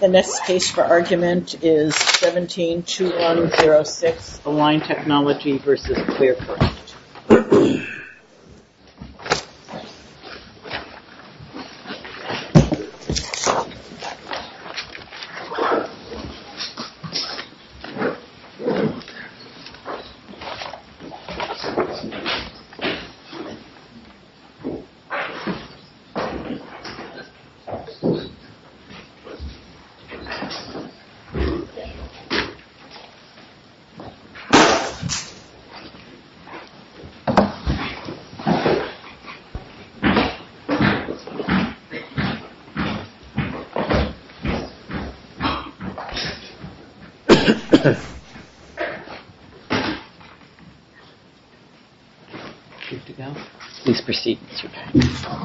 The next case for argument is 17-2106, Align Technology v. ClearCorrect.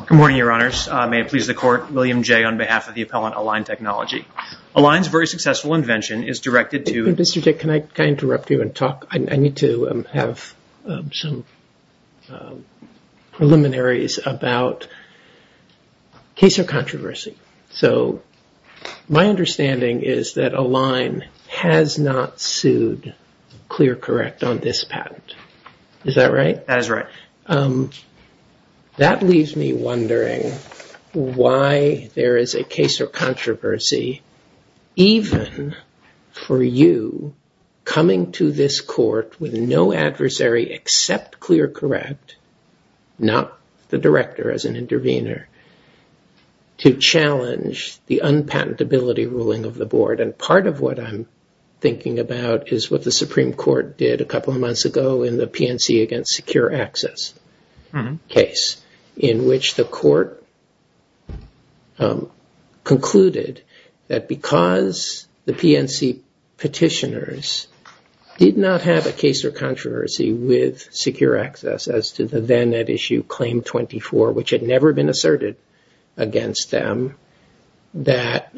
Good morning, Your Honors. May it please the Court, William J. on behalf of the appellant Align Technology v. ClearCorrect, Align's very successful invention is directed to... Mr. J., can I interrupt you and talk? I need to have some preliminaries about case or controversy. So my understanding is that Align has not sued ClearCorrect on this patent. Is that right? That is right. That leaves me wondering why there is a case or controversy, even for you, coming to this court with no adversary except ClearCorrect, not the director as an intervener, to challenge the unpatentability ruling of the board. And part of what I'm thinking about is what the Supreme Court did a couple of months ago in the PNC against secure access case, in which the court concluded that because the PNC petitioners did not have a case or controversy with secure access as to the then at issue claim 24, which had never been asserted against them, that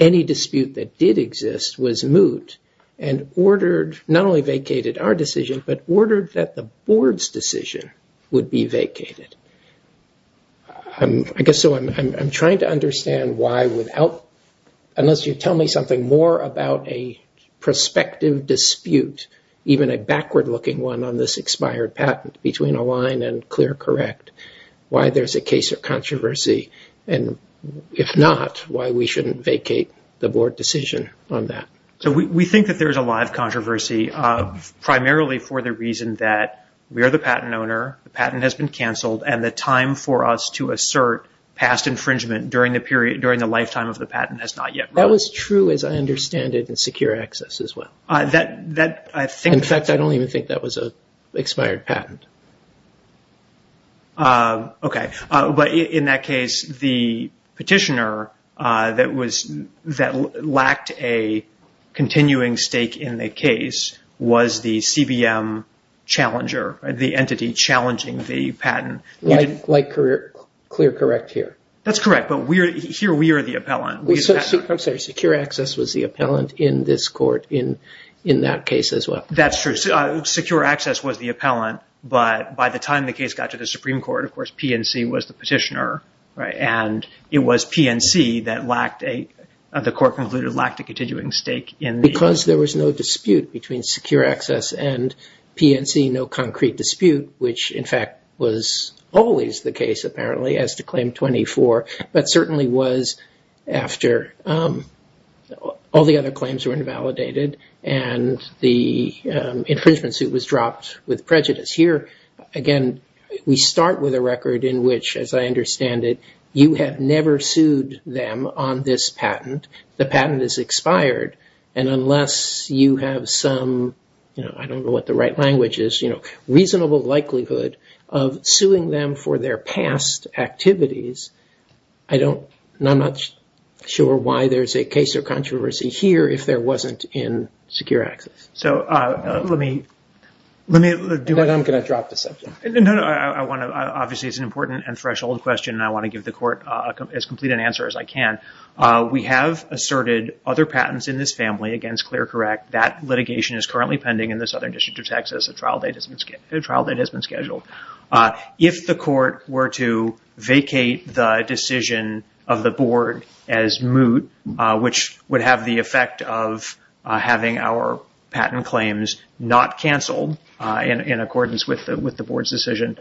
any dispute that did exist was moot and ordered, not only vacated our decision, but ordered that the board's decision would be vacated. I guess I'm trying to understand why without, unless you tell me something more about a prospective dispute, even a backward-looking one on this expired patent between Align and ClearCorrect, why there's a case or controversy, and if not, why we shouldn't vacate the board decision on that. So we think that there's a lot of controversy, primarily for the reason that we are the patent owner, the patent has been canceled, and the time for us to assert past infringement during the lifetime of the patent has not yet run. That was true, as I understand it, in secure access as well. In fact, I don't even think that was an expired patent. Okay, but in that case, the petitioner that lacked a continuing stake in the case was the CVM challenger, the entity challenging the patent. Like ClearCorrect here. That's correct, but here we are the appellant. I'm sorry, secure access was the appellant in this court in that case as well. That's true. Secure access was the appellant, but by the time the case got to the Supreme Court, of course, PNC was the petitioner, and it was PNC that the court concluded lacked a continuing stake in the case. Because there was no dispute between secure access and PNC, no concrete dispute, which, in fact, was always the case, apparently, as to Claim 24, but certainly was after all the other claims were invalidated and the infringement suit was dropped with prejudice. Here, again, we start with a record in which, as I understand it, you have never sued them on this patent. The patent is expired, and unless you have some, I don't know what the right language is, you know, reasonable likelihood of suing them for their past activities, I'm not sure why there's a case or controversy here if there wasn't in secure access. So let me do one. I'm going to drop the subject. No, no. Obviously, it's an important and threshold question, and I want to give the court as complete an answer as I can. We have asserted other patents in this family against ClearCorrect. That litigation is currently pending in the Southern District of Texas. A trial date has been scheduled. If the court were to vacate the decision of the board as moot, which would have the effect of having our patent claims not canceled in accordance with the board's decision,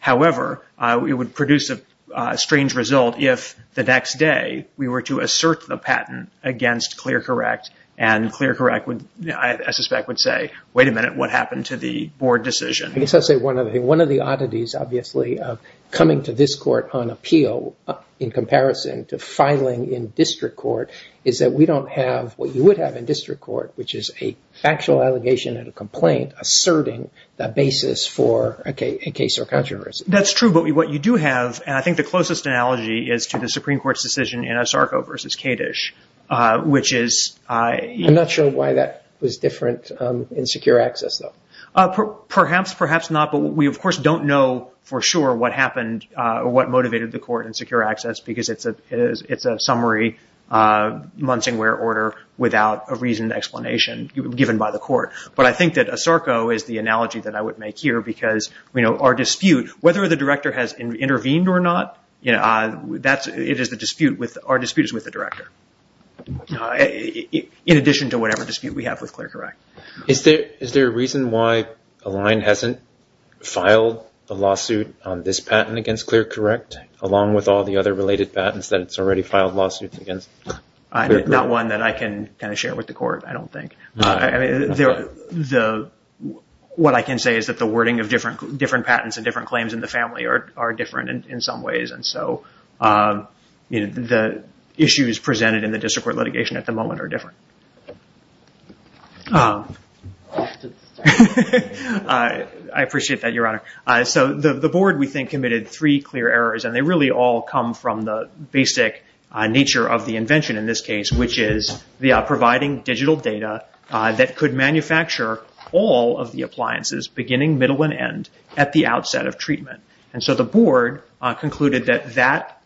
however, it would produce a strange result if the next day we were to assert the patent against ClearCorrect, and ClearCorrect, I suspect, would say, wait a minute, what happened to the board decision? I guess I'll say one of the oddities, obviously, of coming to this court on appeal in comparison to filing in district court is that we don't have what you would have in district court, which is a factual allegation and a complaint asserting the basis for a case or controversy. That's true, but what you do have, and I think the closest analogy is to the Supreme Court's decision in Asarco v. Kadish, which is- I'm not sure why that was different in secure access, though. Perhaps, perhaps not, but we, of course, don't know for sure what happened or what motivated the court in secure access, because it's a summary Munsingware order without a reasoned explanation given by the court. But I think that Asarco is the analogy that I would make here, because our dispute, whether the director has intervened or not, our dispute is with the director, in addition to whatever dispute we have with ClearCorrect. Is there a reason why Align hasn't filed a lawsuit on this patent against ClearCorrect, along with all the other related patents that it's already filed lawsuits against? Not one that I can share with the court, I don't think. What I can say is that the wording of different patents and different claims in the family are different in some ways, and so the issues presented in the district court litigation at the moment are different. I appreciate that, Your Honor. So the board, we think, committed three clear errors, and they really all come from the basic nature of the invention in this case, which is providing digital data that could manufacture all of the appliances, beginning, middle, and end, at the outset of treatment. And so the board concluded that that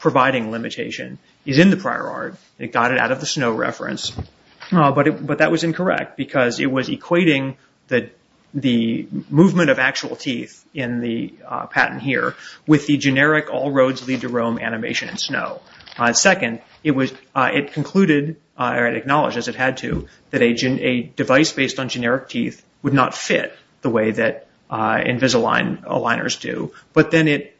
providing limitation is in the prior art. It got it out of the snow reference, but that was incorrect, because it was equating the movement of actual teeth in the patent here with the generic all roads lead to Rome animation in snow. Second, it concluded, or it acknowledged, as it had to, that a device based on generic teeth would not fit the way that Invisalign aligners do. But then it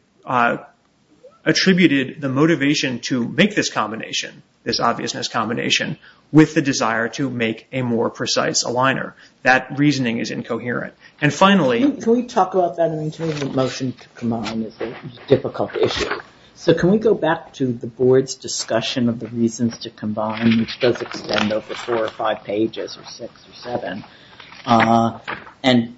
attributed the motivation to make this combination, this obviousness combination, with the desire to make a more precise aligner. That reasoning is incoherent. And finally... Can we talk about that? I mean, changing the motion to combine is a difficult issue. So can we go back to the board's discussion of the reasons to combine, which does extend over four or five pages, or six or seven. And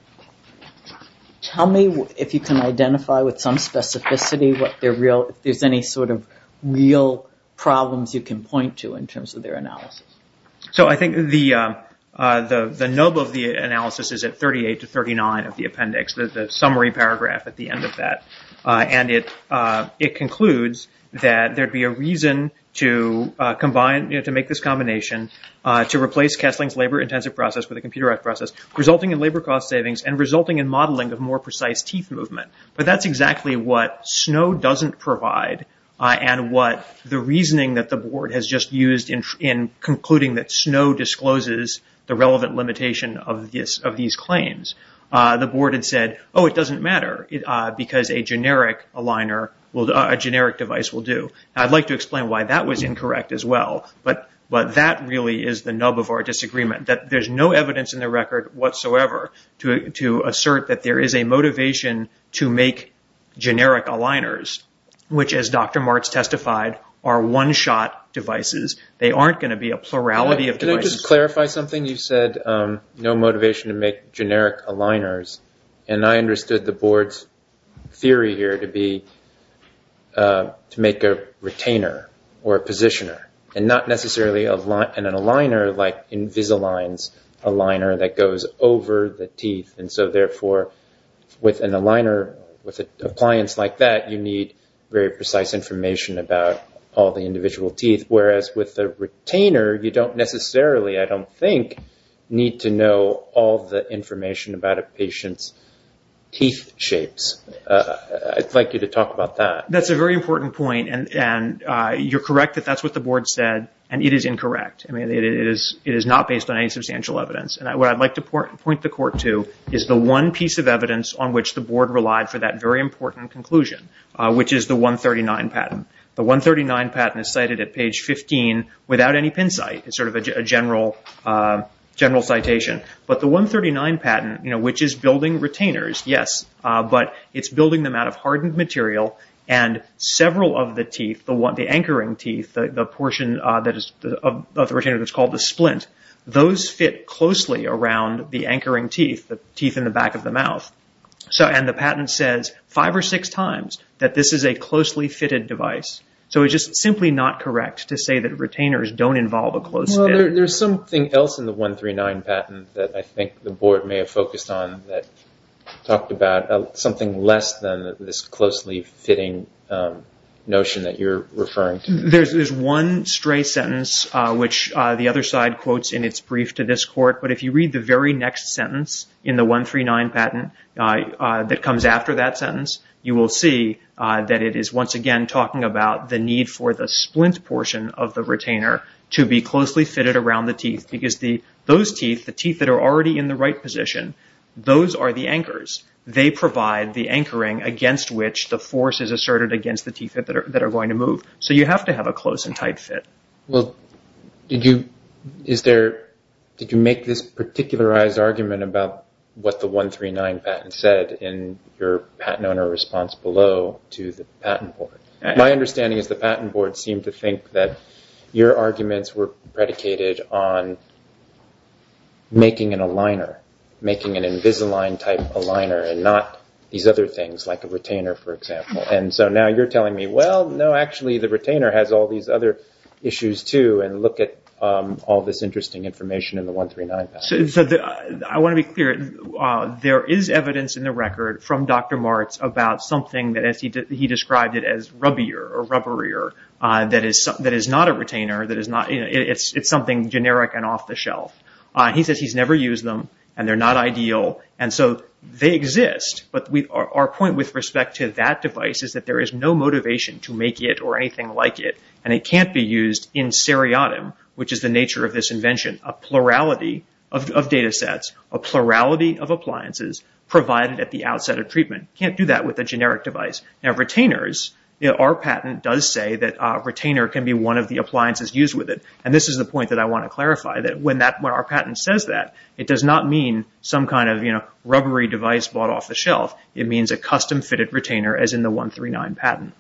tell me if you can identify with some specificity if there's any sort of real problems you can point to in terms of their analysis. So I think the nub of the analysis is at 38 to 39 of the appendix, the summary paragraph at the end of that. And it concludes that there'd be a reason to make this combination to replace Kessling's labor-intensive process with a computerized process, resulting in labor cost savings and resulting in modeling of more precise teeth movement. But that's exactly what Snow doesn't provide, and what the reasoning that the board has just used in concluding that Snow discloses the relevant limitation of these claims. The board had said, oh, it doesn't matter, because a generic device will do. I'd like to explain why that was incorrect as well, but that really is the nub of our disagreement. There's no evidence in the record whatsoever to assert that there is a motivation to make generic aligners, which, as Dr. Martz testified, are one-shot devices. To clarify something, you said no motivation to make generic aligners, and I understood the board's theory here to be to make a retainer or a positioner, and not necessarily an aligner like Invisalign's aligner that goes over the teeth, and so therefore with an aligner, with an appliance like that, you need very precise information about all the individual teeth, whereas with a retainer, you don't necessarily, I don't think, need to know all the information about a patient's teeth shapes. I'd like you to talk about that. That's a very important point, and you're correct that that's what the board said, and it is incorrect. It is not based on any substantial evidence. What I'd like to point the court to is the one piece of evidence on which the board relied for that very important conclusion, which is the 139 patent. The 139 patent is cited at page 15 without any pin site. It's sort of a general citation. But the 139 patent, which is building retainers, yes, but it's building them out of hardened material, and several of the teeth, the anchoring teeth, the portion of the retainer that's called the splint, those fit closely around the anchoring teeth, the teeth in the back of the mouth. And the patent says five or six times that this is a closely fitted device. So it's just simply not correct to say that retainers don't involve a close fit. Well, there's something else in the 139 patent that I think the board may have focused on that talked about something less than this closely fitting notion that you're referring to. There's one stray sentence which the other side quotes in its brief to this court, but if you read the very next sentence in the 139 patent that comes after that sentence, you will see that it is once again talking about the need for the splint portion of the retainer to be closely fitted around the teeth because those teeth, the teeth that are already in the right position, those are the anchors. They provide the anchoring against which the force is asserted against the teeth that are going to move. So you have to have a close and tight fit. Well, did you make this particularized argument about what the 139 patent said in your patent owner response below to the patent board? My understanding is the patent board seemed to think that your arguments were predicated on making an aligner, making an Invisalign type aligner and not these other things like a retainer, for example. And so now you're telling me, well, no, actually the retainer has all these other issues too and look at all this interesting information in the 139 patent. I want to be clear. There is evidence in the record from Dr. Martz about something that he described as rubbier or rubberier that is not a retainer. It's something generic and off the shelf. He says he's never used them and they're not ideal. And so they exist, but our point with respect to that device is that there is no motivation to make it or anything like it and it can't be used in seriatim, which is the nature of this invention, a plurality of data sets, a plurality of appliances provided at the outset of treatment. You can't do that with a generic device. Now, retainers, our patent does say that a retainer can be one of the appliances used with it. And this is the point that I want to clarify, that when our patent says that, it does not mean some kind of rubbery device bought off the shelf. It means a custom-fitted retainer as in the 139 patent,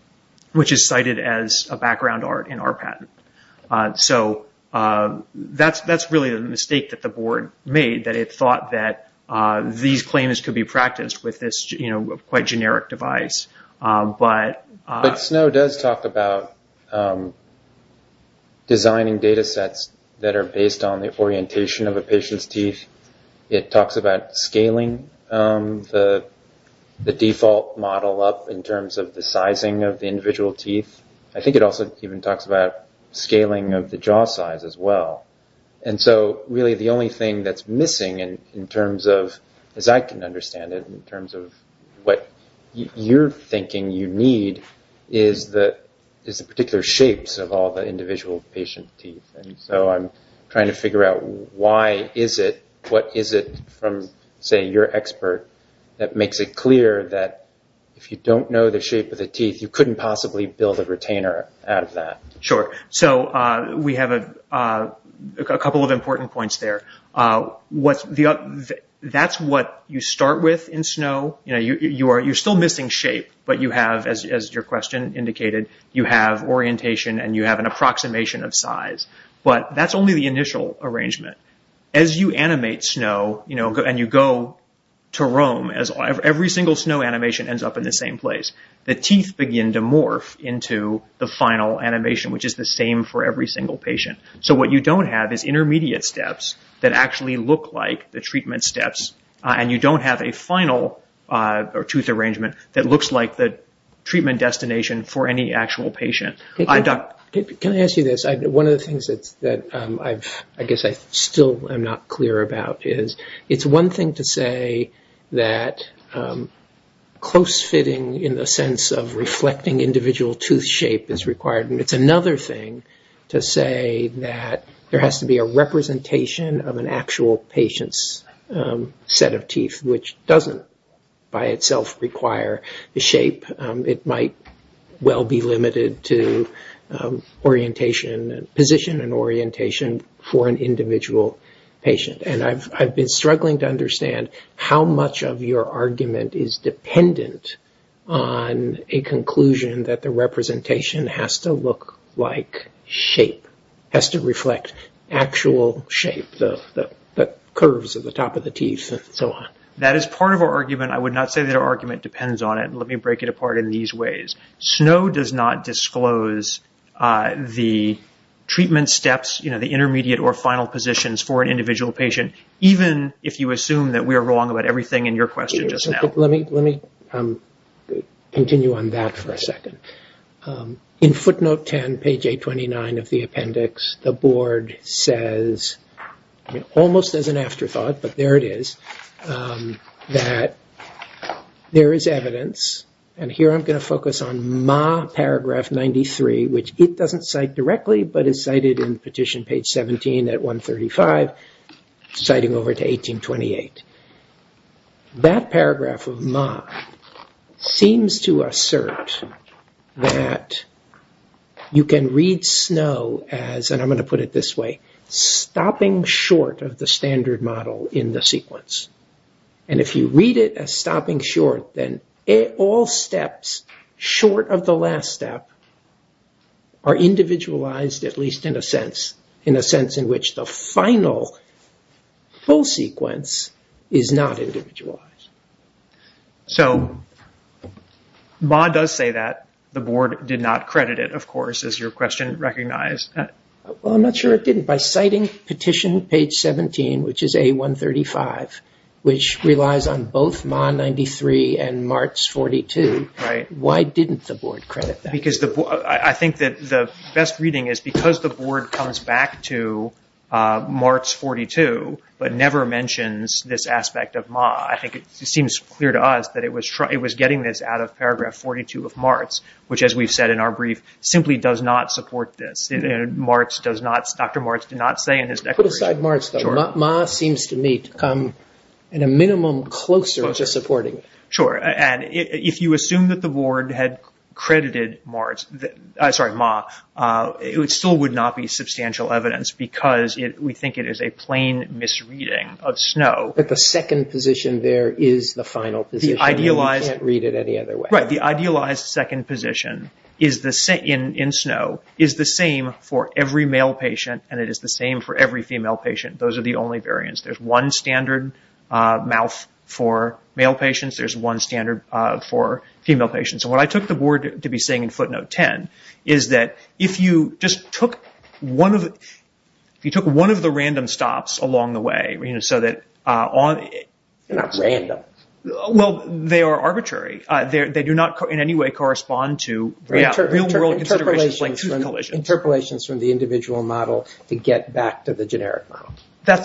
which is cited as a background art in our patent. So that's really the mistake that the board made, that it thought that these claims could be practiced with this quite generic device. But Snow does talk about designing data sets that are based on the orientation of a patient's teeth. It talks about scaling the default model up in terms of the sizing of the individual teeth. I think it also even talks about scaling of the jaw size as well. And so really the only thing that's missing in terms of, as I can understand it, in terms of what you're thinking you need is the particular shapes of all the individual patient teeth. And so I'm trying to figure out why is it, what is it from, say, your expert, that makes it clear that if you don't know the shape of the teeth, you couldn't possibly build a retainer out of that. Sure. So we have a couple of important points there. That's what you start with in Snow. You're still missing shape, but you have, as your question indicated, you have orientation and you have an approximation of size. But that's only the initial arrangement. As you animate Snow and you go to roam, every single Snow animation ends up in the same place. The teeth begin to morph into the final animation, which is the same for every single patient. So what you don't have is intermediate steps that actually look like the treatment steps, and you don't have a final tooth arrangement that looks like the treatment destination for any actual patient. Can I ask you this? One of the things that I guess I still am not clear about is, it's one thing to say that close fitting in the sense of reflecting individual tooth shape is required, and it's another thing to say that there has to be a representation of an actual patient's set of teeth, which doesn't by itself require the shape. It might well be limited to orientation, position and orientation for an individual patient. And I've been struggling to understand how much of your argument is dependent on a conclusion that the representation has to look like shape, has to reflect actual shape, the curves at the top of the teeth and so on. That is part of our argument. I would not say that our argument depends on it. Let me break it apart in these ways. Snow does not disclose the treatment steps, the intermediate or final positions for an individual patient, even if you assume that we are wrong about everything in your question just now. Let me continue on that for a second. In footnote 10, page 829 of the appendix, the board says, almost as an afterthought, but there it is, that there is evidence, and here I'm going to focus on my paragraph 93, which it doesn't cite directly but is cited in petition page 17 at 135, citing over to 1828. That paragraph of Ma seems to assert that you can read Snow as, and I'm going to put it this way, stopping short of the standard model in the sequence. And if you read it as stopping short, then all steps short of the last step are individualized, at least in a sense in which the final whole sequence is not individualized. So Ma does say that. The board did not credit it, of course, as your question recognized. I'm not sure it didn't. By citing petition page 17, which is A135, which relies on both Ma 93 and Martz 42, why didn't the board credit that? Because I think that the best reading is because the board comes back to Martz 42, but never mentions this aspect of Ma. I think it seems clear to us that it was getting this out of paragraph 42 of Martz, which, as we've said in our brief, simply does not support this. Dr. Martz did not say in his declaration. Put aside Martz, though. Ma seems to me to come at a minimum closer to supporting it. Sure. And if you assume that the board had credited Ma, it still would not be substantial evidence because we think it is a plain misreading of Snow. But the second position there is the final position, and you can't read it any other way. Right. The idealized second position in Snow is the same for every male patient, and it is the same for every female patient. Those are the only variants. There's one standard mouth for male patients. There's one standard for female patients. And what I took the board to be saying in footnote 10 is that if you just took one of the random stops along the way, so that on... They're not random. Well, they are arbitrary. They do not in any way correspond to real-world considerations like tooth collisions. Interpolations from the individual model to get back to the generic mouth.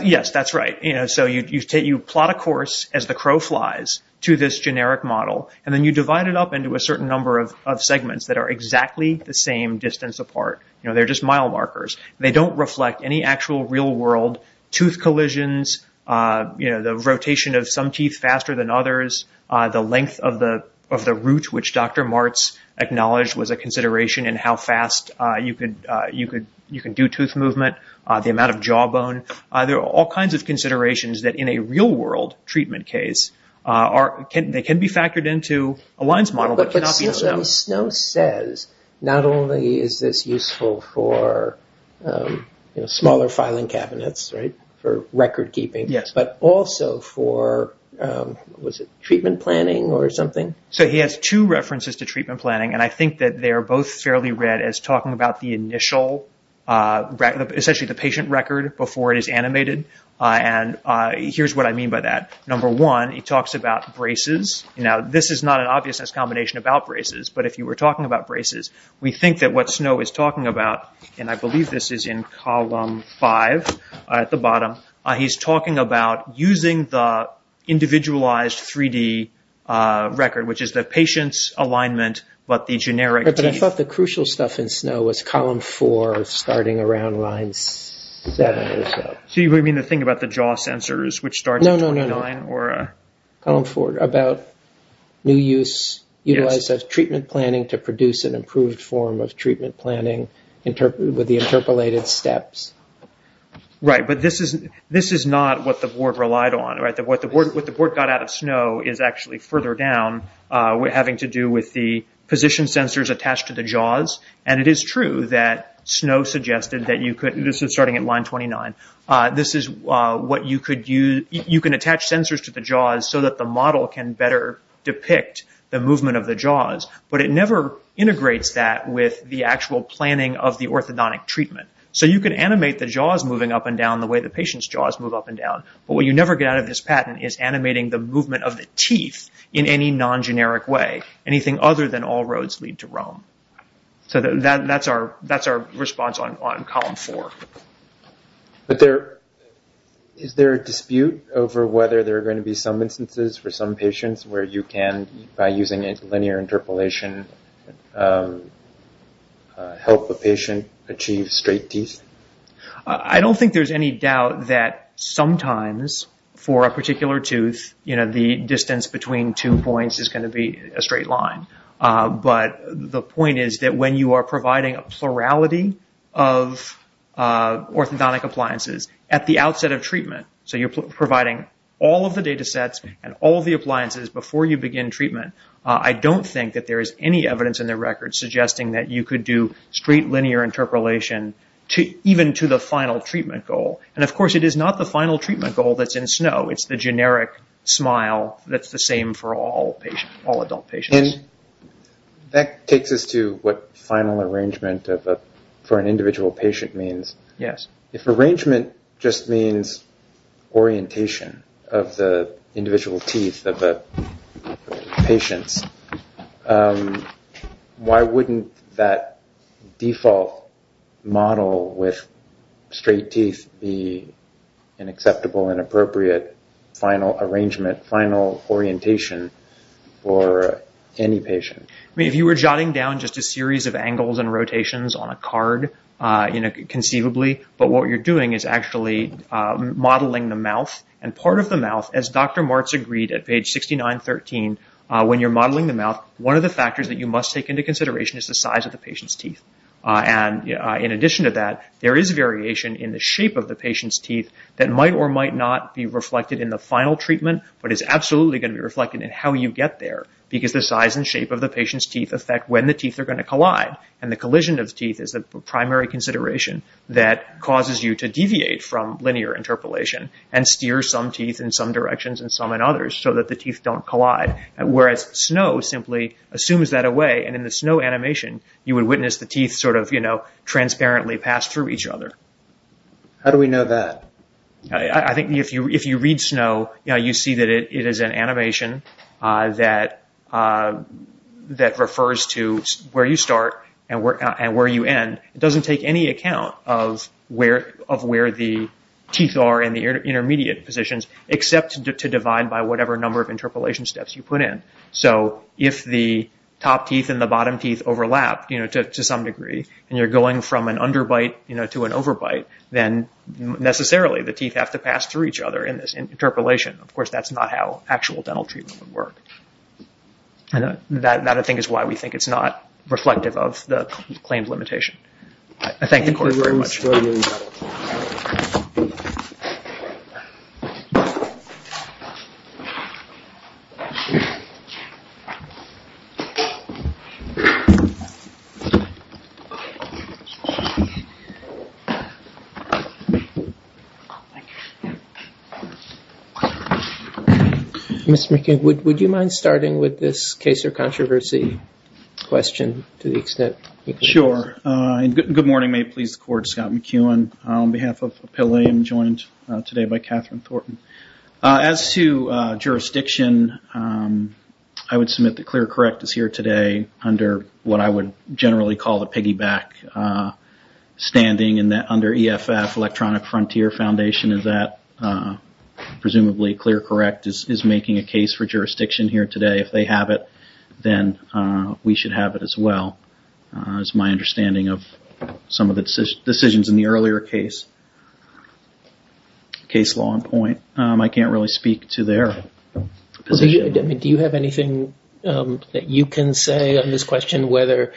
Yes, that's right. So you plot a course as the crow flies to this generic model, and then you divide it up into a certain number of segments that are exactly the same distance apart. They're just mile markers. They don't reflect any actual real-world tooth collisions, the rotation of some teeth faster than others, the length of the root, which Dr. Martz acknowledged was a consideration in how fast you can do tooth movement, the amount of jawbone. There are all kinds of considerations that in a real-world treatment case, they can be factored into a lines model, but cannot be in SNO. But SNO says not only is this useful for smaller filing cabinets, right, for record keeping, but also for, was it treatment planning or something? So he has two references to treatment planning, and I think that they are both fairly read as talking about the initial, essentially the patient record before it is animated. And here's what I mean by that. Number one, he talks about braces. Now, this is not an obviousness combination about braces, but if you were talking about braces, we think that what SNO is talking about, and I believe this is in column five at the bottom, he's talking about using the individualized 3D record, which is the patient's alignment, but the generic teeth. But I thought the crucial stuff in SNO was column four, starting around line seven or so. So you mean the thing about the jaw sensors, which start at 29? No, no, no, no. Column four, about new use, utilize of treatment planning to produce an improved form of treatment planning with the interpolated steps. Right, but this is not what the board relied on, right? What the board got out of SNO is actually further down, having to do with the position sensors attached to the jaws, and it is true that SNO suggested that you could, this is starting at line 29, this is what you could use, you can attach sensors to the jaws so that the model can better depict the movement of the jaws, but it never integrates that with the actual planning of the orthodontic treatment. So you can animate the jaws moving up and down the way the patient's jaws move up and down, but what you never get out of this patent is animating the movement of the teeth in any non-generic way, anything other than all roads lead to Rome. So that's our response on column four. But is there a dispute over whether there are going to be some instances for some patients where you can, by using a linear interpolation, help a patient achieve straight teeth? I don't think there's any doubt that sometimes, for a particular tooth, the distance between two points is going to be a straight line. But the point is that when you are providing a plurality of orthodontic appliances at the outset of treatment, so you're providing all of the data sets and all of the appliances before you begin treatment, I don't think that there is any evidence in the record suggesting that you could do straight linear interpolation even to the final treatment goal. And, of course, it is not the final treatment goal that's in Snow. It's the generic smile that's the same for all adult patients. And that takes us to what final arrangement for an individual patient means. Yes. If arrangement just means orientation of the individual teeth of the patients, why wouldn't that default model with straight teeth be an acceptable and appropriate final arrangement, final orientation for any patient? I mean, if you were jotting down just a series of angles and rotations on a card conceivably, but what you're doing is actually modeling the mouth. And part of the mouth, as Dr. Martz agreed at page 6913, when you're modeling the mouth, one of the factors that you must take into consideration is the size of the patient's teeth. And in addition to that, there is variation in the shape of the patient's teeth that might or might not be reflected in the final treatment, but is absolutely going to be reflected in how you get there because the size and shape of the patient's teeth affect when the teeth are going to collide. And the collision of teeth is the primary consideration that causes you to deviate from linear interpolation and steer some teeth in some directions and some in others so that the teeth don't collide, whereas snow simply assumes that away. And in the snow animation, you would witness the teeth sort of, you know, transparently pass through each other. How do we know that? I think if you read snow, you know, you see that it is an animation that refers to where you start and where you end. It doesn't take any account of where the teeth are in the intermediate positions, except to divide by whatever number of interpolation steps you put in. So if the top teeth and the bottom teeth overlap, you know, to some degree, and you're going from an underbite, you know, to an overbite, then necessarily the teeth have to pass through each other in this interpolation. Of course, that's not how actual dental treatment would work. That, I think, is why we think it's not reflective of the claimed limitation. I thank the court very much. Thank you very much. Mr. McCain, would you mind starting with this case of controversy question to the extent you can? Sure. Good morning. May it please the court. Scott McEwen on behalf of Appellium, joined today by Catherine Thornton. As to jurisdiction, I would submit that ClearCorrect is here today under what I would generally call the piggyback standing under EFF, Electronic Frontier Foundation, and that presumably ClearCorrect is making a case for jurisdiction here today. If they have it, then we should have it as well, is my understanding of some of the decisions in the earlier case. Case law in point. I can't really speak to their position. Do you have anything that you can say on this question whether,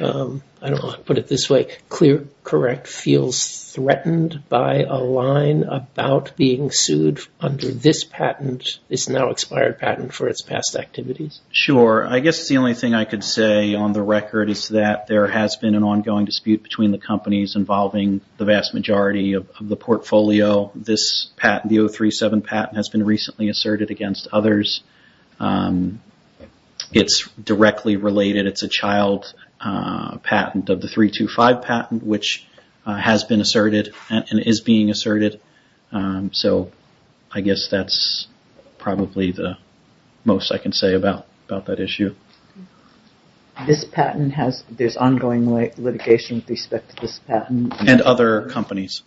I don't know, put it this way, ClearCorrect feels threatened by a line about being sued under this patent, this now expired patent for its past activities? Sure. I guess the only thing I could say on the record is that there has been an ongoing dispute between the companies involving the vast majority of the portfolio. This patent, the 037 patent, has been recently asserted against others. It's directly related. It's a child patent of the 325 patent, which has been asserted and is being asserted. I guess that's probably the most I can say about that issue. This patent has, there's ongoing litigation with respect to this patent. And other companies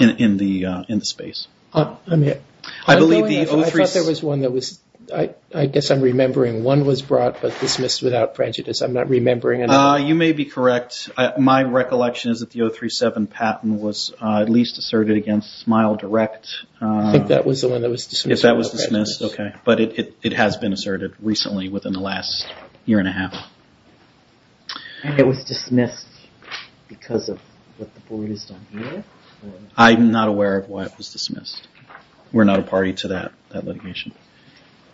in the space. I thought there was one that was, I guess I'm remembering, one was brought but dismissed without prejudice. I'm not remembering it. You may be correct. My recollection is that the 037 patent was at least asserted against Smile Direct. I think that was the one that was dismissed without prejudice. If that was dismissed, okay. But it has been asserted recently within the last year and a half. And it was dismissed because of what the board has done here? I'm not aware of why it was dismissed. We're not a party to that litigation.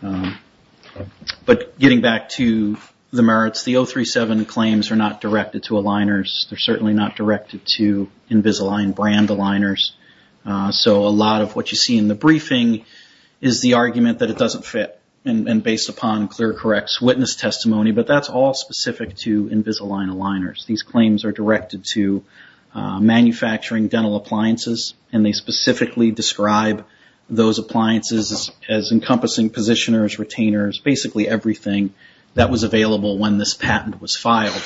But getting back to the merits, the 037 claims are not directed to aligners. They're certainly not directed to Invisalign brand aligners. So a lot of what you see in the briefing is the argument that it doesn't fit. And based upon clear, correct witness testimony. But that's all specific to Invisalign aligners. These claims are directed to manufacturing dental appliances. And they specifically describe those appliances as encompassing positioners, retainers, basically everything that was available when this patent was filed.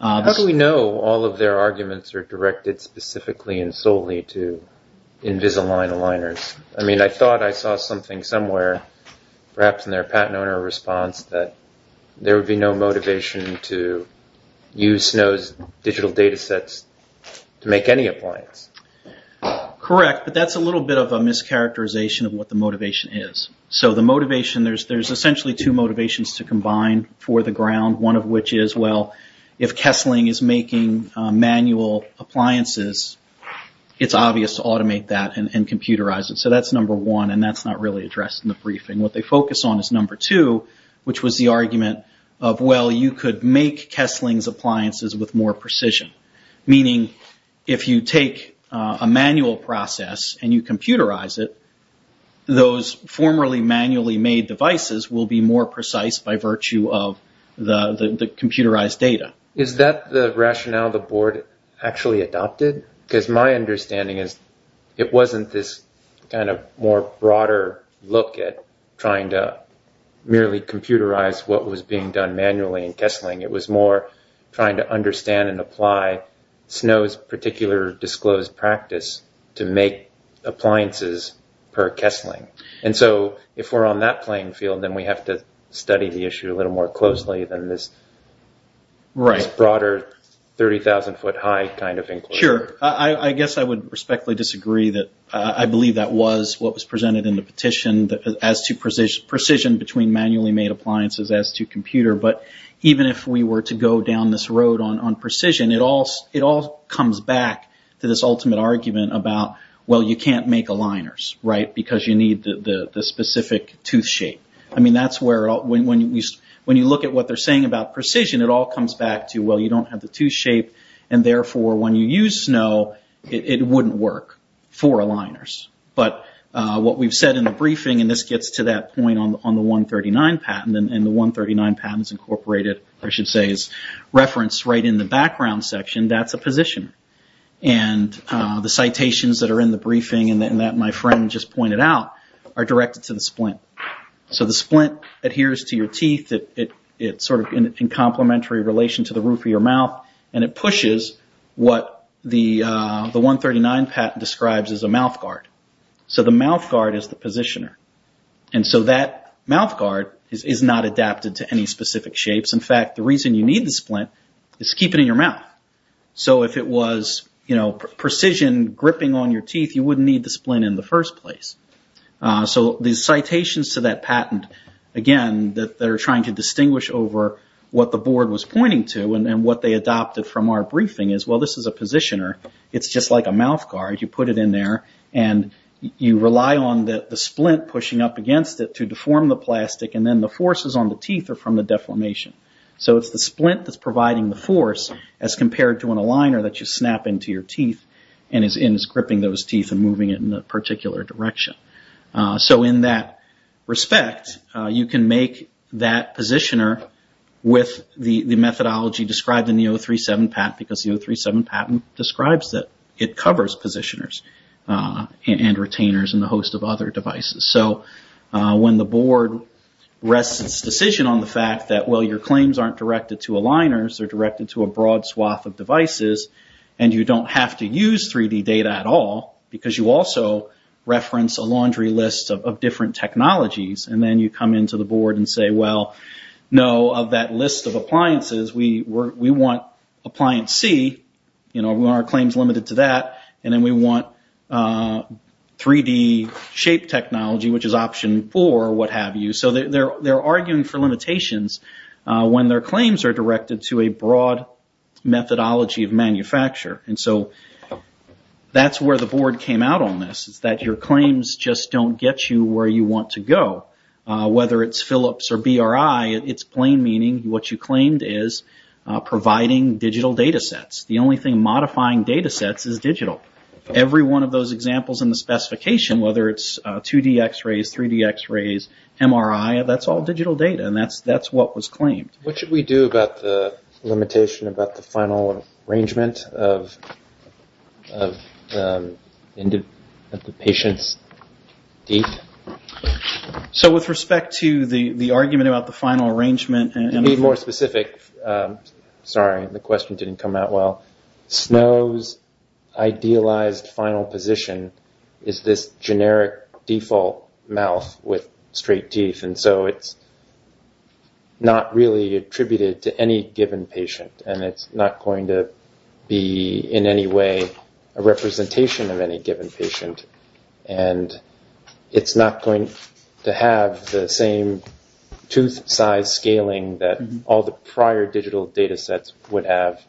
How do we know all of their arguments are directed specifically and solely to Invisalign aligners? I mean, I thought I saw something somewhere, perhaps in their patent owner response, that there would be no motivation to use Snow's digital data sets to make any appliance. Correct. But that's a little bit of a mischaracterization of what the motivation is. So the motivation, there's essentially two motivations to combine for the ground. One of which is, well, if Kessling is making manual appliances, it's obvious to automate that and computerize it. So that's number one. And that's not really addressed in the briefing. What they focus on is number two, which was the argument of, well, you could make Kessling's appliances with more precision. Meaning, if you take a manual process and you computerize it, those formerly manually made devices will be more precise by virtue of the computerized data. Is that the rationale the board actually adopted? Because my understanding is it wasn't this kind of more broader look at trying to merely computerize what was being done manually in Kessling. It was more trying to understand and apply Snow's particular disclosed practice to make appliances per Kessling. And so if we're on that playing field, then we have to study the issue a little more closely than this broader 30,000 foot high kind of inquiry. Sure. I guess I would respectfully disagree that I believe that was what was presented in the petition as to precision between manually made appliances as to computer. But even if we were to go down this road on precision, it all comes back to this ultimate argument about, well, you can't make aligners, right, because you need the specific tooth shape. I mean, that's where when you look at what they're saying about precision, it all comes back to, well, you don't have the tooth shape. And therefore, when you use Snow, it wouldn't work for aligners. But what we've said in the briefing, and this gets to that point on the 139 patent, and the 139 patent is incorporated, I should say, is referenced right in the background section. That's a position. And the citations that are in the briefing and that my friend just pointed out are directed to the splint. So the splint adheres to your teeth. It's sort of in complementary relation to the roof of your mouth. And it pushes what the 139 patent describes as a mouth guard. So the mouth guard is the positioner. And so that mouth guard is not adapted to any specific shapes. In fact, the reason you need the splint is to keep it in your mouth. So if it was precision gripping on your teeth, you wouldn't need the splint in the first place. So the citations to that patent, again, they're trying to distinguish over what the board was pointing to and what they adopted from our briefing is, well, this is a positioner. It's just like a mouth guard. You put it in there, and you rely on the splint pushing up against it to deform the plastic, and then the forces on the teeth are from the deformation. So it's the splint that's providing the force as compared to an aligner that you snap into your teeth and is gripping those teeth and moving it in a particular direction. So in that respect, you can make that positioner with the methodology described in the 037 patent because the 037 patent describes that it covers positioners and retainers and a host of other devices. So when the board rests its decision on the fact that, well, your claims aren't directed to aligners, they're directed to a broad swath of devices, and you don't have to use 3D data at all because you also reference a laundry list of different technologies, and then you come into the board and say, well, no, of that list of appliances, we want appliance C. We want our claims limited to that, and then we want 3D shape technology, which is option four, what have you. So they're arguing for limitations when their claims are directed to a broad methodology of manufacture. And so that's where the board came out on this, is that your claims just don't get you where you want to go. Whether it's Philips or BRI, it's plain meaning what you claimed is providing digital data sets. The only thing modifying data sets is digital. Every one of those examples in the specification, whether it's 2D x-rays, 3D x-rays, MRI, that's all digital data, and that's what was claimed. What should we do about the limitation about the final arrangement of the patient's teeth? So with respect to the argument about the final arrangement. To be more specific, sorry, the question didn't come out well. Snow's idealized final position is this generic default mouth with straight teeth, and so it's not really attributed to any given patient, and it's not going to be in any way a representation of any given patient, and it's not going to have the same tooth size scaling that all the prior digital data sets would have,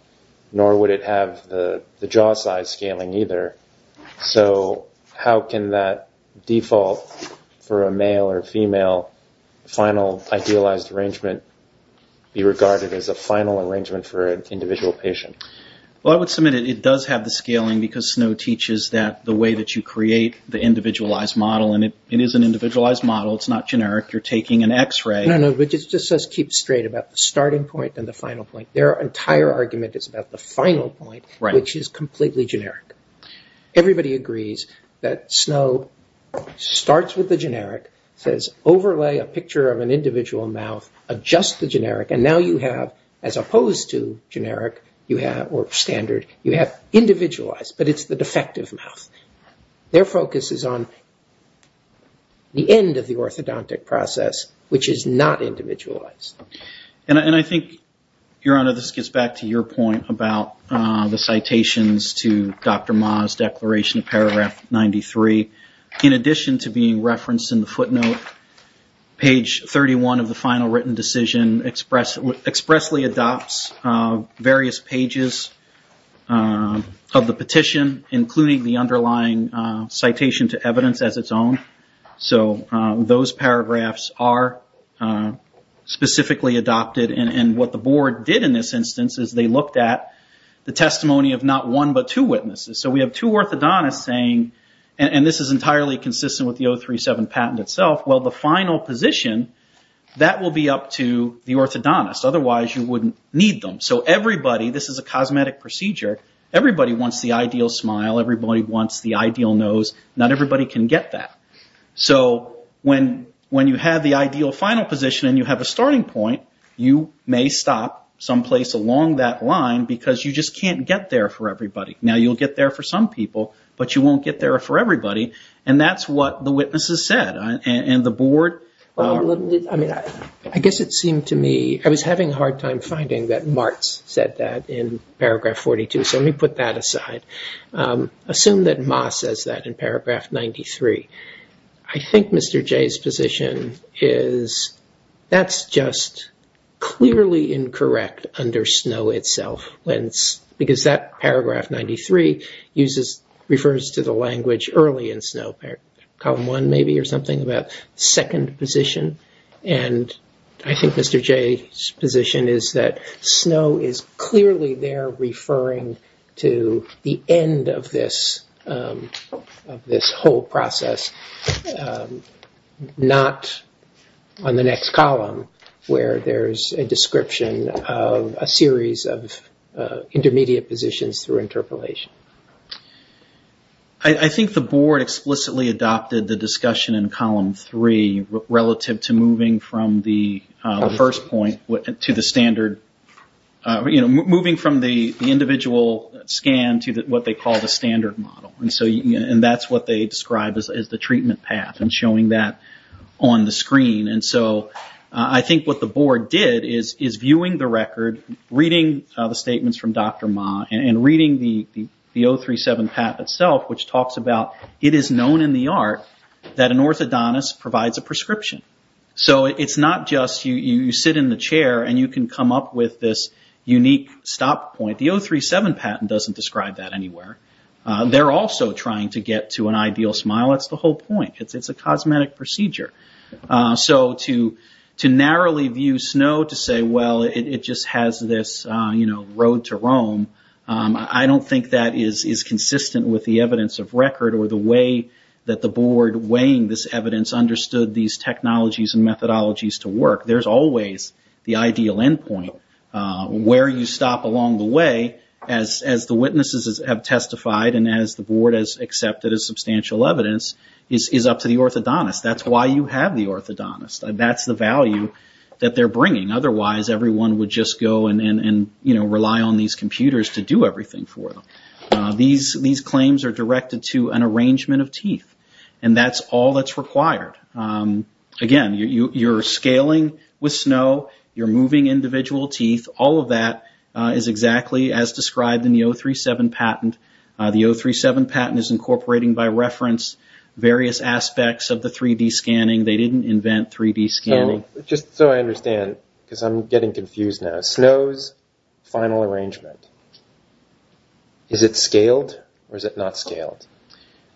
nor would it have the jaw size scaling either. So how can that default for a male or female final idealized arrangement be regarded as a final arrangement for an individual patient? Well, I would submit it does have the scaling because Snow teaches that the way that you create the individualized model, and it is an individualized model. It's not generic. You're taking an x-ray. No, no, but it just says keep straight about the starting point and the final point. Their entire argument is about the final point, which is completely generic. Everybody agrees that Snow starts with the generic, says overlay a picture of an individual mouth, adjust the generic, and now you have, as opposed to generic or standard, you have individualized, but it's the defective mouth. Their focus is on the end of the orthodontic process, which is not individualized. I think, Your Honor, this gets back to your point about the citations to Dr. Ma's declaration of paragraph 93. In addition to being referenced in the footnote, page 31 of the final written decision expressly adopts various pages of the petition, including the underlying citation to evidence as its own. Those paragraphs are specifically adopted. What the board did in this instance is they looked at the testimony of not one but two witnesses. We have two orthodontists saying, and this is entirely consistent with the 037 patent itself, well, the final position, that will be up to the orthodontist. Otherwise, you wouldn't need them. Everybody, this is a cosmetic procedure. Everybody wants the ideal smile. Everybody wants the ideal nose. Not everybody can get that. So when you have the ideal final position and you have a starting point, you may stop someplace along that line because you just can't get there for everybody. Now, you'll get there for some people, but you won't get there for everybody. And that's what the witnesses said, and the board— I guess it seemed to me, I was having a hard time finding that Martz said that in paragraph 42, so let me put that aside. Assume that Ma says that in paragraph 93. I think Mr. Jay's position is that's just clearly incorrect under Snow itself because that paragraph 93 refers to the language early in Snow, column one maybe or something about second position. And I think Mr. Jay's position is that Snow is clearly there referring to the end of this whole process, not on the next column where there's a description of a series of intermediate positions through interpolation. I think the board explicitly adopted the discussion in column three relative to moving from the first point to the standard— moving from the individual scan to what they call the standard model. And that's what they described as the treatment path and showing that on the screen. And so I think what the board did is viewing the record, reading the statements from Dr. Ma, and reading the 037 patent itself, which talks about it is known in the art that an orthodontist provides a prescription. So it's not just you sit in the chair and you can come up with this unique stop point. The 037 patent doesn't describe that anywhere. They're also trying to get to an ideal smile. That's the whole point. It's a cosmetic procedure. So to narrowly view Snow to say, well, it just has this road to Rome, I don't think that is consistent with the evidence of record or the way that the board weighing this evidence understood these technologies and methodologies to work. There's always the ideal end point where you stop along the way as the witnesses have testified and as the board has accepted as substantial evidence is up to the orthodontist. That's why you have the orthodontist. That's the value that they're bringing. Otherwise, everyone would just go and rely on these computers to do everything for them. These claims are directed to an arrangement of teeth, and that's all that's required. Again, you're scaling with Snow. You're moving individual teeth. All of that is exactly as described in the 037 patent. The 037 patent is incorporating by reference various aspects of the 3D scanning. They didn't invent 3D scanning. Just so I understand, because I'm getting confused now, Snow's final arrangement, is it scaled or is it not scaled?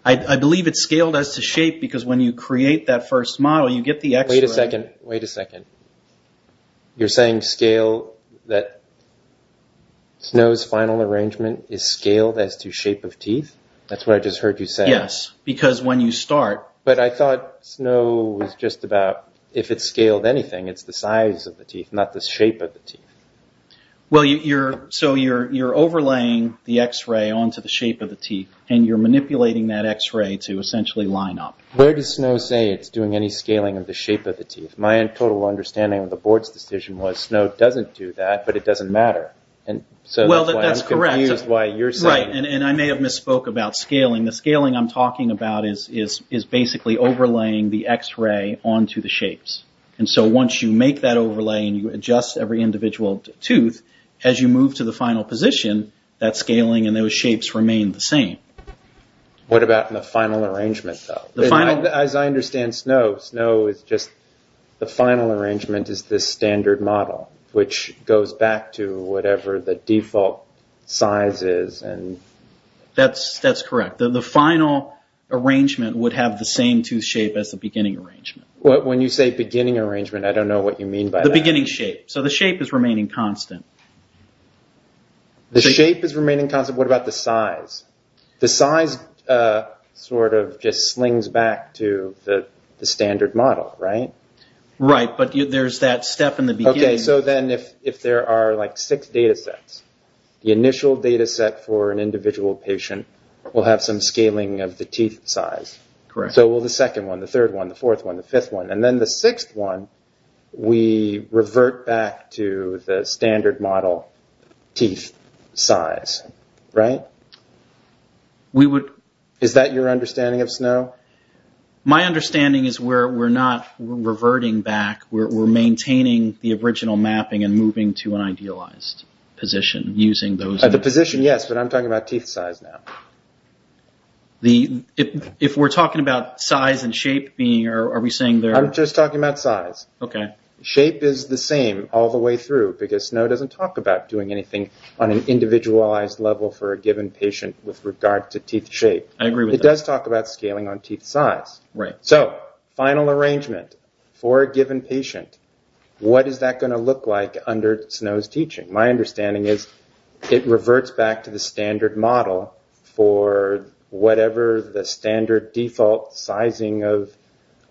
I believe it's scaled as to shape because when you create that first model, you get the x-ray. Wait a second. You're saying Snow's final arrangement is scaled as to shape of teeth? That's what I just heard you say. Yes, because when you start... But I thought Snow was just about, if it's scaled anything, it's the size of the teeth, not the shape of the teeth. You're overlaying the x-ray onto the shape of the teeth, and you're manipulating that x-ray to essentially line up. Where does Snow say it's doing any scaling of the shape of the teeth? My total understanding of the board's decision was Snow doesn't do that, but it doesn't matter. That's correct. I'm confused why you're saying... I may have misspoke about scaling. The scaling I'm talking about is basically overlaying the x-ray onto the shapes. Once you make that overlay and you adjust every individual tooth, as you move to the final position, that scaling and those shapes remain the same. What about in the final arrangement, though? As I understand Snow, Snow is just... The final arrangement is this standard model, which goes back to whatever the default size is. That's correct. The final arrangement would have the same tooth shape as the beginning arrangement. When you say beginning arrangement, I don't know what you mean by that. The beginning shape. The shape is remaining constant. The shape is remaining constant. What about the size? The size sort of just slings back to the standard model, right? Right, but there's that step in the beginning. Okay, so then if there are like six data sets, the initial data set for an individual patient will have some scaling of the teeth size. Correct. So will the second one, the third one, the fourth one, the fifth one. And then the sixth one, we revert back to the standard model teeth size, right? We would... Is that your understanding of Snow? My understanding is we're not reverting back. We're maintaining the original mapping and moving to an idealized position using those... The position, yes, but I'm talking about teeth size now. If we're talking about size and shape, are we saying they're... I'm just talking about size. Okay. Shape is the same all the way through because Snow doesn't talk about doing anything on an individualized level for a given patient with regard to teeth shape. I agree with that. It does talk about scaling on teeth size. Right. So final arrangement for a given patient, what is that going to look like under Snow's teaching? My understanding is it reverts back to the standard model for whatever the standard default sizing of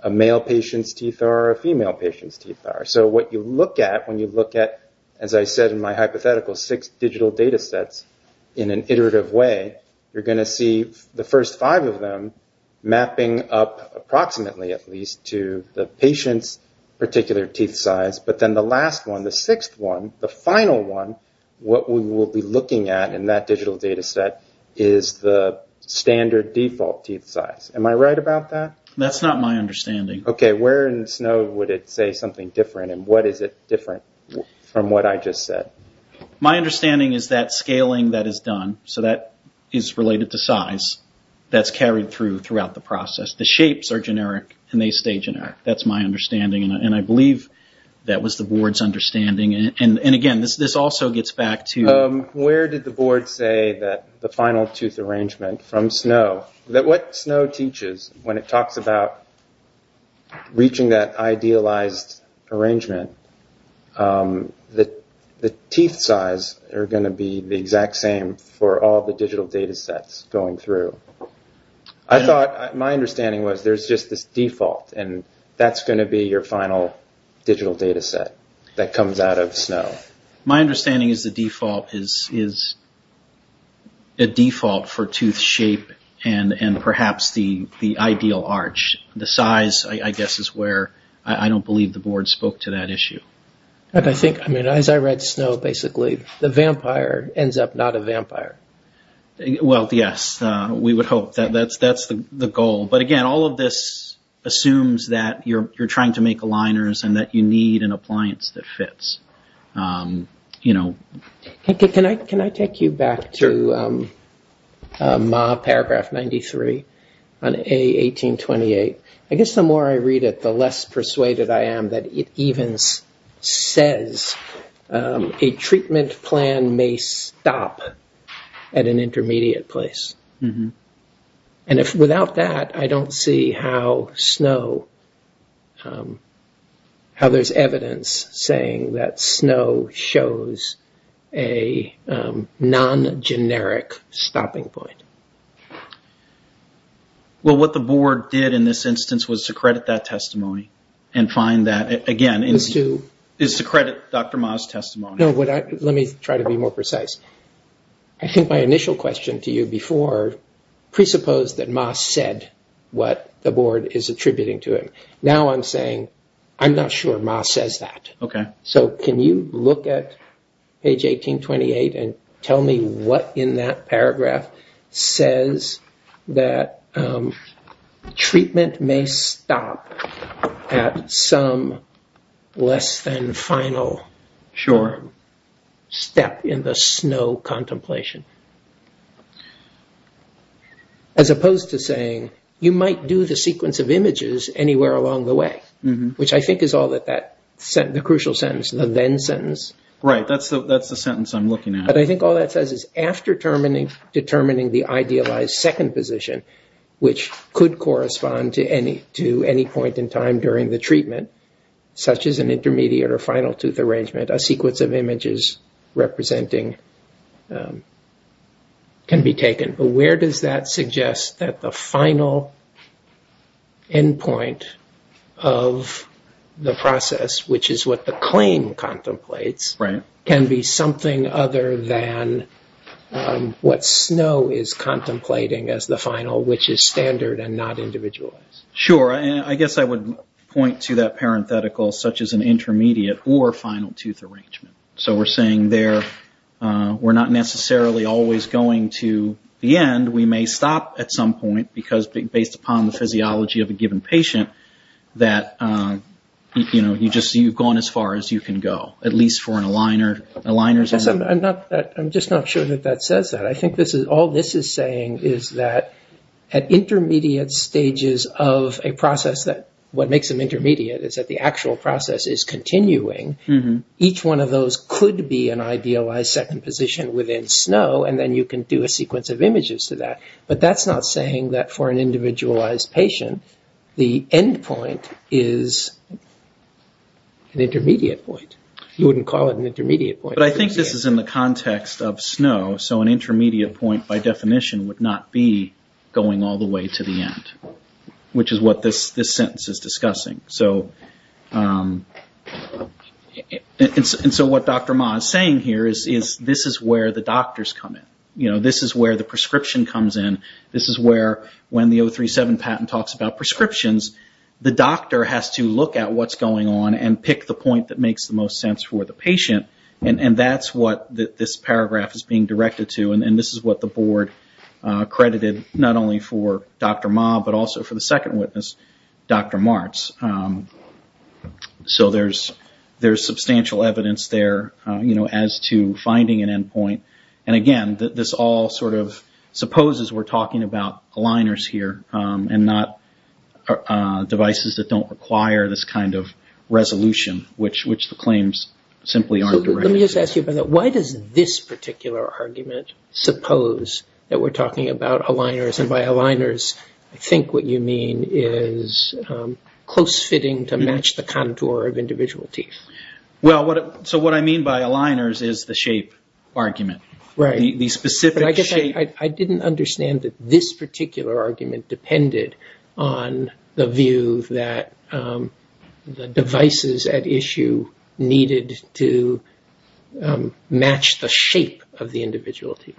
a male patient's teeth are or a female patient's teeth are. So what you look at when you look at, as I said in my hypothetical, six digital data sets in an iterative way, you're going to see the first five of them mapping up approximately at least to the patient's particular teeth size. But then the last one, the sixth one, the final one, what we will be looking at in that digital data set is the standard default teeth size. Am I right about that? That's not my understanding. Okay. Where in Snow would it say something different and what is it different from what I just said? My understanding is that scaling that is done, so that is related to size, that's carried through throughout the process. The shapes are generic and they stay generic. That's my understanding and I believe that was the board's understanding. Again, this also gets back to... Where did the board say that the final tooth arrangement from Snow, that what Snow teaches when it talks about reaching that idealized arrangement, the teeth size are going to be the exact same for all the digital data sets going through. I thought... My understanding was there's just this default and that's going to be your final digital data set that comes out of Snow. My understanding is the default is a default for tooth shape and perhaps the ideal arch. The size, I guess, is where I don't believe the board spoke to that issue. As I read Snow, basically, the vampire ends up not a vampire. Well, yes. We would hope that that's the goal. But again, all of this assumes that you're trying to make aligners and that you need an appliance that fits. Can I take you back to paragraph 93 on A1828? I guess the more I read it, the less persuaded I am that it even says a treatment plan may stop at an intermediate place. Without that, I don't see how there's evidence saying that Snow shows a non-generic stopping point. Well, what the board did in this instance was to credit that testimony and find that, again, is to credit Dr. Ma's testimony. Let me try to be more precise. I think my initial question to you before presupposed that Ma said what the board is attributing to him. Now I'm saying, I'm not sure Ma says that. Okay. Can you look at page 1828 and tell me what in that paragraph says that treatment may stop at some less than final step in the Snow contemplation? As opposed to saying you might do the sequence of images anywhere along the way, which I think is all that that crucial sentence, the then sentence. Right. That's the sentence I'm looking at. But I think all that says is after determining the idealized second position, which could correspond to any point in time during the treatment, such as an intermediate or final tooth arrangement, a sequence of images representing can be taken. But where does that suggest that the final endpoint of the process, which is what the claim contemplates, can be something other than what Snow is contemplating as the final, which is standard and not individualized? Sure. I guess I would point to that parenthetical such as an intermediate or final tooth arrangement. So we're saying there we're not necessarily always going to the end. We may stop at some point because based upon the physiology of a given patient that you've gone as far as you can go, at least for an aligner. I'm just not sure that that says that. I think all this is saying is that at intermediate stages of a process, what makes them intermediate is that the actual process is continuing. Each one of those could be an idealized second position within Snow, and then you can do a sequence of images to that. But that's not saying that for an individualized patient, the endpoint is an intermediate point. You wouldn't call it an intermediate point. But I think this is in the context of Snow, so an intermediate point by definition would not be going all the way to the end, which is what this sentence is discussing. So what Dr. Ma is saying here is this is where the doctors come in. This is where the prescription comes in. This is where when the 037 patent talks about prescriptions, the doctor has to look at what's going on and pick the point that makes the most sense for the patient. And that's what this paragraph is being directed to. And this is what the board credited not only for Dr. Ma, but also for the second witness, Dr. Martz. So there's substantial evidence there as to finding an endpoint. And again, this all sort of supposes we're talking about aligners here, and not devices that don't require this kind of resolution, which the claims simply aren't directed to. Let me just ask you about that. Why does this particular argument suppose that we're talking about aligners? And by aligners, I think what you mean is close-fitting to match the contour of individual teeth. So what I mean by aligners is the shape argument. I guess I didn't understand that this particular argument depended on the view that the devices at issue needed to match the shape of the individual teeth.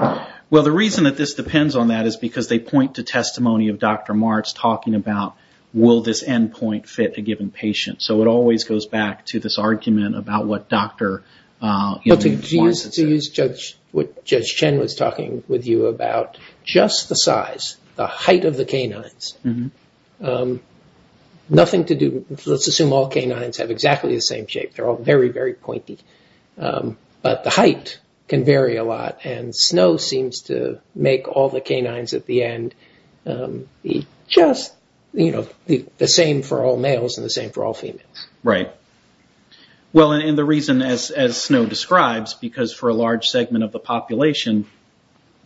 Well, the reason that this depends on that is because they point to testimony of Dr. Martz talking about will this endpoint fit a given patient. So it always goes back to this argument about what Dr. Martz said. To use what Judge Chen was talking with you about, just the size, the height of the canines. Let's assume all canines have exactly the same shape. They're all very, very pointy. But the height can vary a lot, and snow seems to make all the canines at the end be just the same for all males and the same for all females. Right. Well, and the reason, as Snow describes, because for a large segment of the population,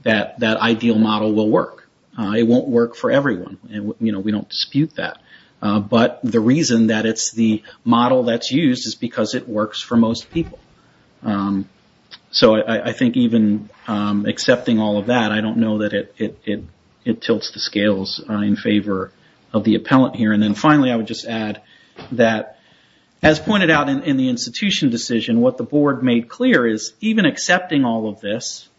that ideal model will work. It won't work for everyone. We don't dispute that. But the reason that it's the model that's used is because it works for most people. So I think even accepting all of that, I don't know that it tilts the scales in favor of the appellant here. And then finally, I would just add that, as pointed out in the institution decision, what the board made clear is, even accepting all of this,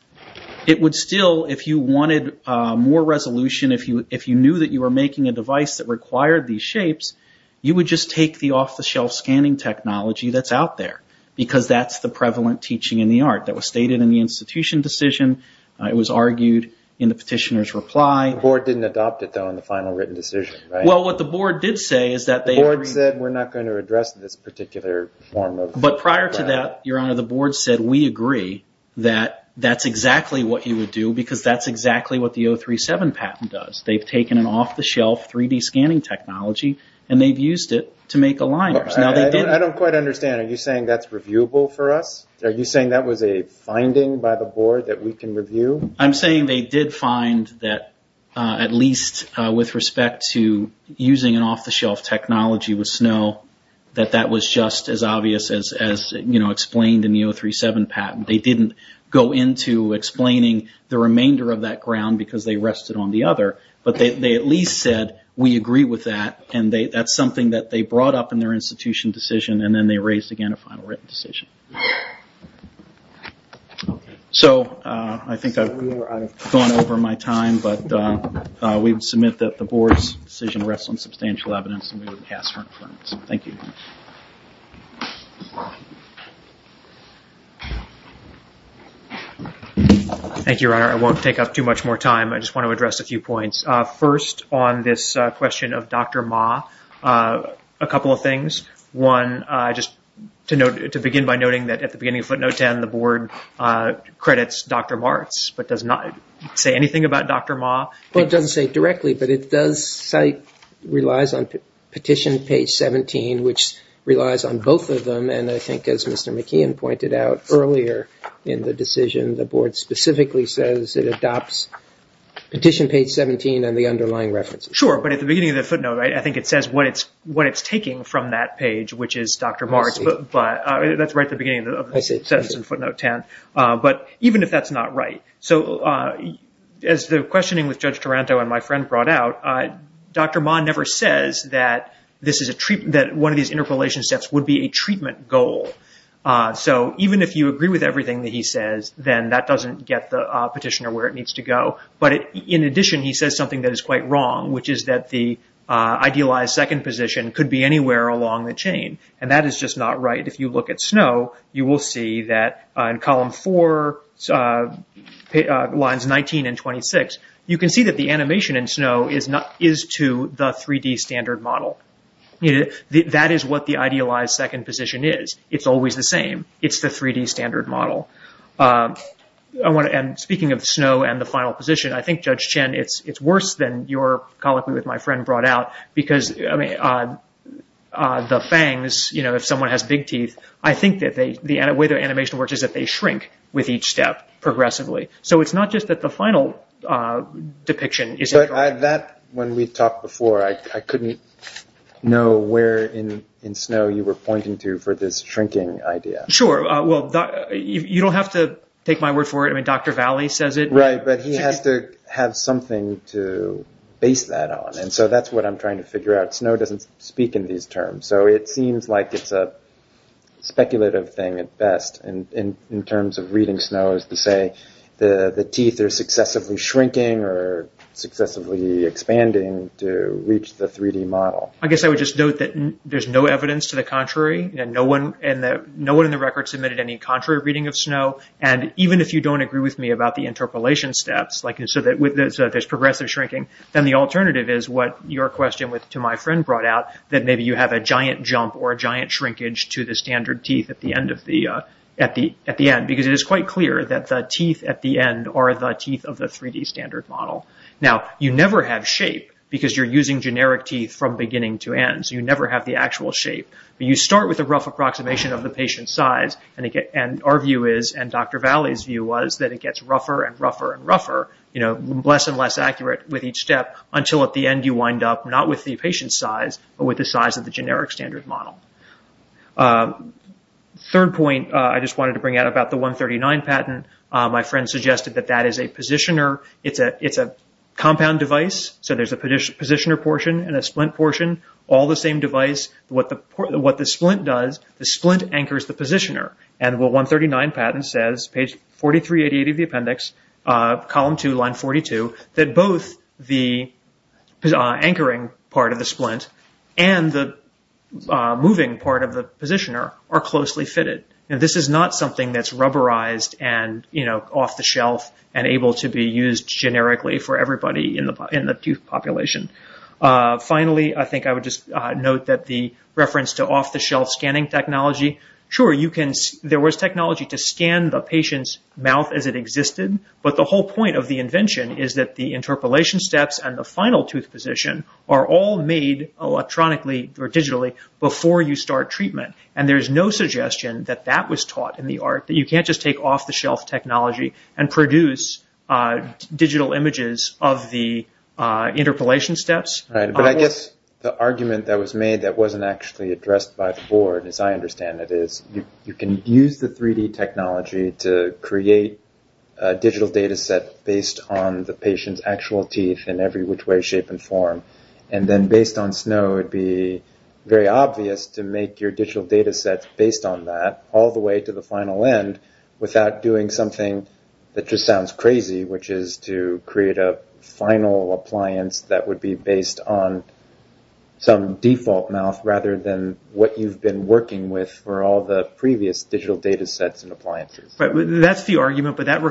it would still, if you wanted more resolution, if you knew that you were making a device that required these shapes, you would just take the off-the-shelf scanning technology that's out there. Because that's the prevalent teaching in the art that was stated in the institution decision. It was argued in the petitioner's reply. The board didn't adopt it, though, in the final written decision, right? Well, what the board did say is that they agreed... The board said, we're not going to address this particular form of... But prior to that, Your Honor, the board said, we agree that that's exactly what you would do because that's exactly what the 037 patent does. They've taken an off-the-shelf 3D scanning technology and they've used it to make aligners. I don't quite understand. Are you saying that's reviewable for us? Are you saying that was a finding by the board that we can review? I'm saying they did find that, at least with respect to using an off-the-shelf technology with snow, that that was just as obvious as explained in the 037 patent. They didn't go into explaining the remainder of that ground because they rested on the other. But they at least said, we agree with that, and that's something that they brought up in their institution decision, and then they raised again a final written decision. So I think I've gone over my time, but we would submit that the board's decision rests on substantial evidence, and we would pass her inference. Thank you. Thank you, Your Honor. I won't take up too much more time. I just want to address a few points. First, on this question of Dr. Ma, a couple of things. One, just to begin by noting that at the beginning of footnote 10, the board credits Dr. Martz but does not say anything about Dr. Ma. Well, it doesn't say directly, but it does cite, relies on petition page 17, which relies on both of them, and I think as Mr. McKeon pointed out earlier in the decision, the board specifically says it adopts petition page 17 and the underlying references. Sure, but at the beginning of the footnote, I think it says what it's taking from that page, which is Dr. Martz, but that's right at the beginning of the sentence in footnote 10. But even if that's not right, so as the questioning with Judge Taranto and my friend brought out, Dr. Ma never says that one of these interpolation steps would be a treatment goal. So even if you agree with everything that he says, then that doesn't get the petitioner where it needs to go. But in addition, he says something that is quite wrong, which is that the idealized second position could be anywhere along the chain, and that is just not right. If you look at Snow, you will see that in column four, lines 19 and 26, you can see that the animation in Snow is to the 3D standard model. That is what the idealized second position is. It's always the same. It's the 3D standard model. Speaking of Snow and the final position, I think, Judge Chen, it's worse than your colloquy with my friend brought out, because the fangs, if someone has big teeth, I think that the way the animation works is that they shrink with each step progressively. So it's not just that the final depiction isn't correct. But that, when we talked before, I couldn't know where in Snow you were pointing to for this shrinking idea. Sure. Well, you don't have to take my word for it. I mean, Dr. Valli says it. Right, but he has to have something to base that on. And so that's what I'm trying to figure out. Snow doesn't speak in these terms. So it seems like it's a speculative thing at best, in terms of reading Snow as to say the teeth are successively shrinking or successively expanding to reach the 3D model. I guess I would just note that there's no evidence to the contrary, and no one in the record submitted any contrary reading of Snow. And even if you don't agree with me about the interpolation steps, so that there's progressive shrinking, then the alternative is what your question to my friend brought out, that maybe you have a giant jump or a giant shrinkage to the standard teeth at the end. Because it is quite clear that the teeth at the end are the teeth of the 3D standard model. Now, you never have shape, because you're using generic teeth from beginning to end. So you never have the actual shape. But you start with a rough approximation of the patient's size. And our view is, and Dr. Valley's view was, that it gets rougher and rougher and rougher, less and less accurate with each step, until at the end you wind up not with the patient's size, but with the size of the generic standard model. Third point, I just wanted to bring out about the 139 patent. My friend suggested that that is a positioner. It's a compound device. So there's a positioner portion and a splint portion, all the same device. What the splint does, the splint anchors the positioner. And what 139 patent says, page 4388 of the appendix, column 2, line 42, that both the anchoring part of the splint and the moving part of the positioner are closely fitted. And this is not something that's rubberized and off the shelf and able to be used generically for everybody in the tooth population. Finally, I think I would just note that the reference to off-the-shelf scanning technology. Sure, there was technology to scan the patient's mouth as it existed, but the whole point of the invention is that the interpolation steps and the final tooth position are all made electronically or digitally before you start treatment. And there's no suggestion that that was taught in the art, that you can't just take off-the-shelf technology and produce digital images of the interpolation steps. Right, but I guess the argument that was made that wasn't actually addressed by the board, as I understand it, is you can use the 3D technology to create a digital data set based on the patient's actual teeth in every which way, shape, and form. And then based on snow, it would be very obvious to make your digital data set based on that all the way to the final end without doing something that just sounds crazy, which is to create a final appliance that would be based on some default mouth rather than what you've been working with for all the previous digital data sets and appliances. That's the argument, but that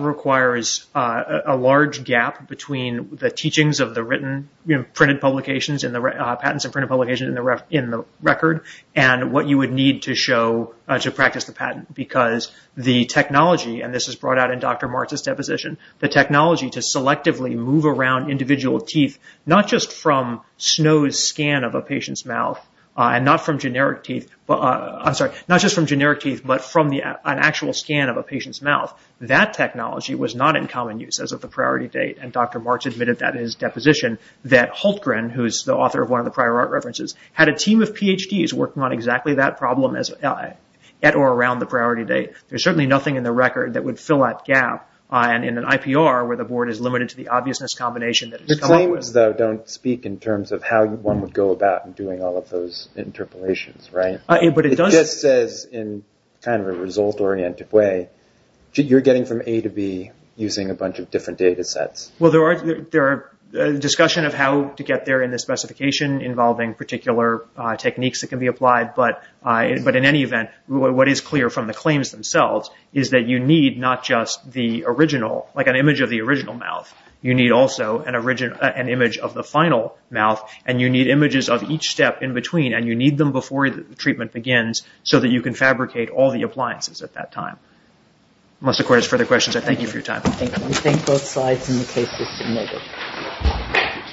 requires a large gap between the teachings of the written, printed publications, patents and printed publications in the record, and what you would need to practice the patent. Because the technology, and this is brought out in Dr. Martz's deposition, the technology to selectively move around individual teeth, not just from Snow's scan of a patient's mouth and not from generic teeth, I'm sorry, not just from generic teeth, but from an actual scan of a patient's mouth, that technology was not in common use as of the priority date. And Dr. Martz admitted that in his deposition that Hultgren, who is the author of one of the prior art references, had a team of PhDs working on exactly that problem at or around the priority date. There's certainly nothing in the record that would fill that gap, and in an IPR where the board is limited to the obviousness combination that has come up with it. The claims, though, don't speak in terms of how one would go about doing all of those interpolations, right? It just says in kind of a result-oriented way, you're getting from A to B using a bunch of different data sets. Well, there are discussion of how to get there in the specification involving particular techniques that can be applied, but in any event, what is clear from the claims themselves is that you need not just the original, like an image of the original mouth, you need also an image of the final mouth, and you need images of each step in between, and you need them before the treatment begins, so that you can fabricate all the appliances at that time. Unless the court has further questions, I thank you for your time. Thank you. We thank both sides in the case that submitted.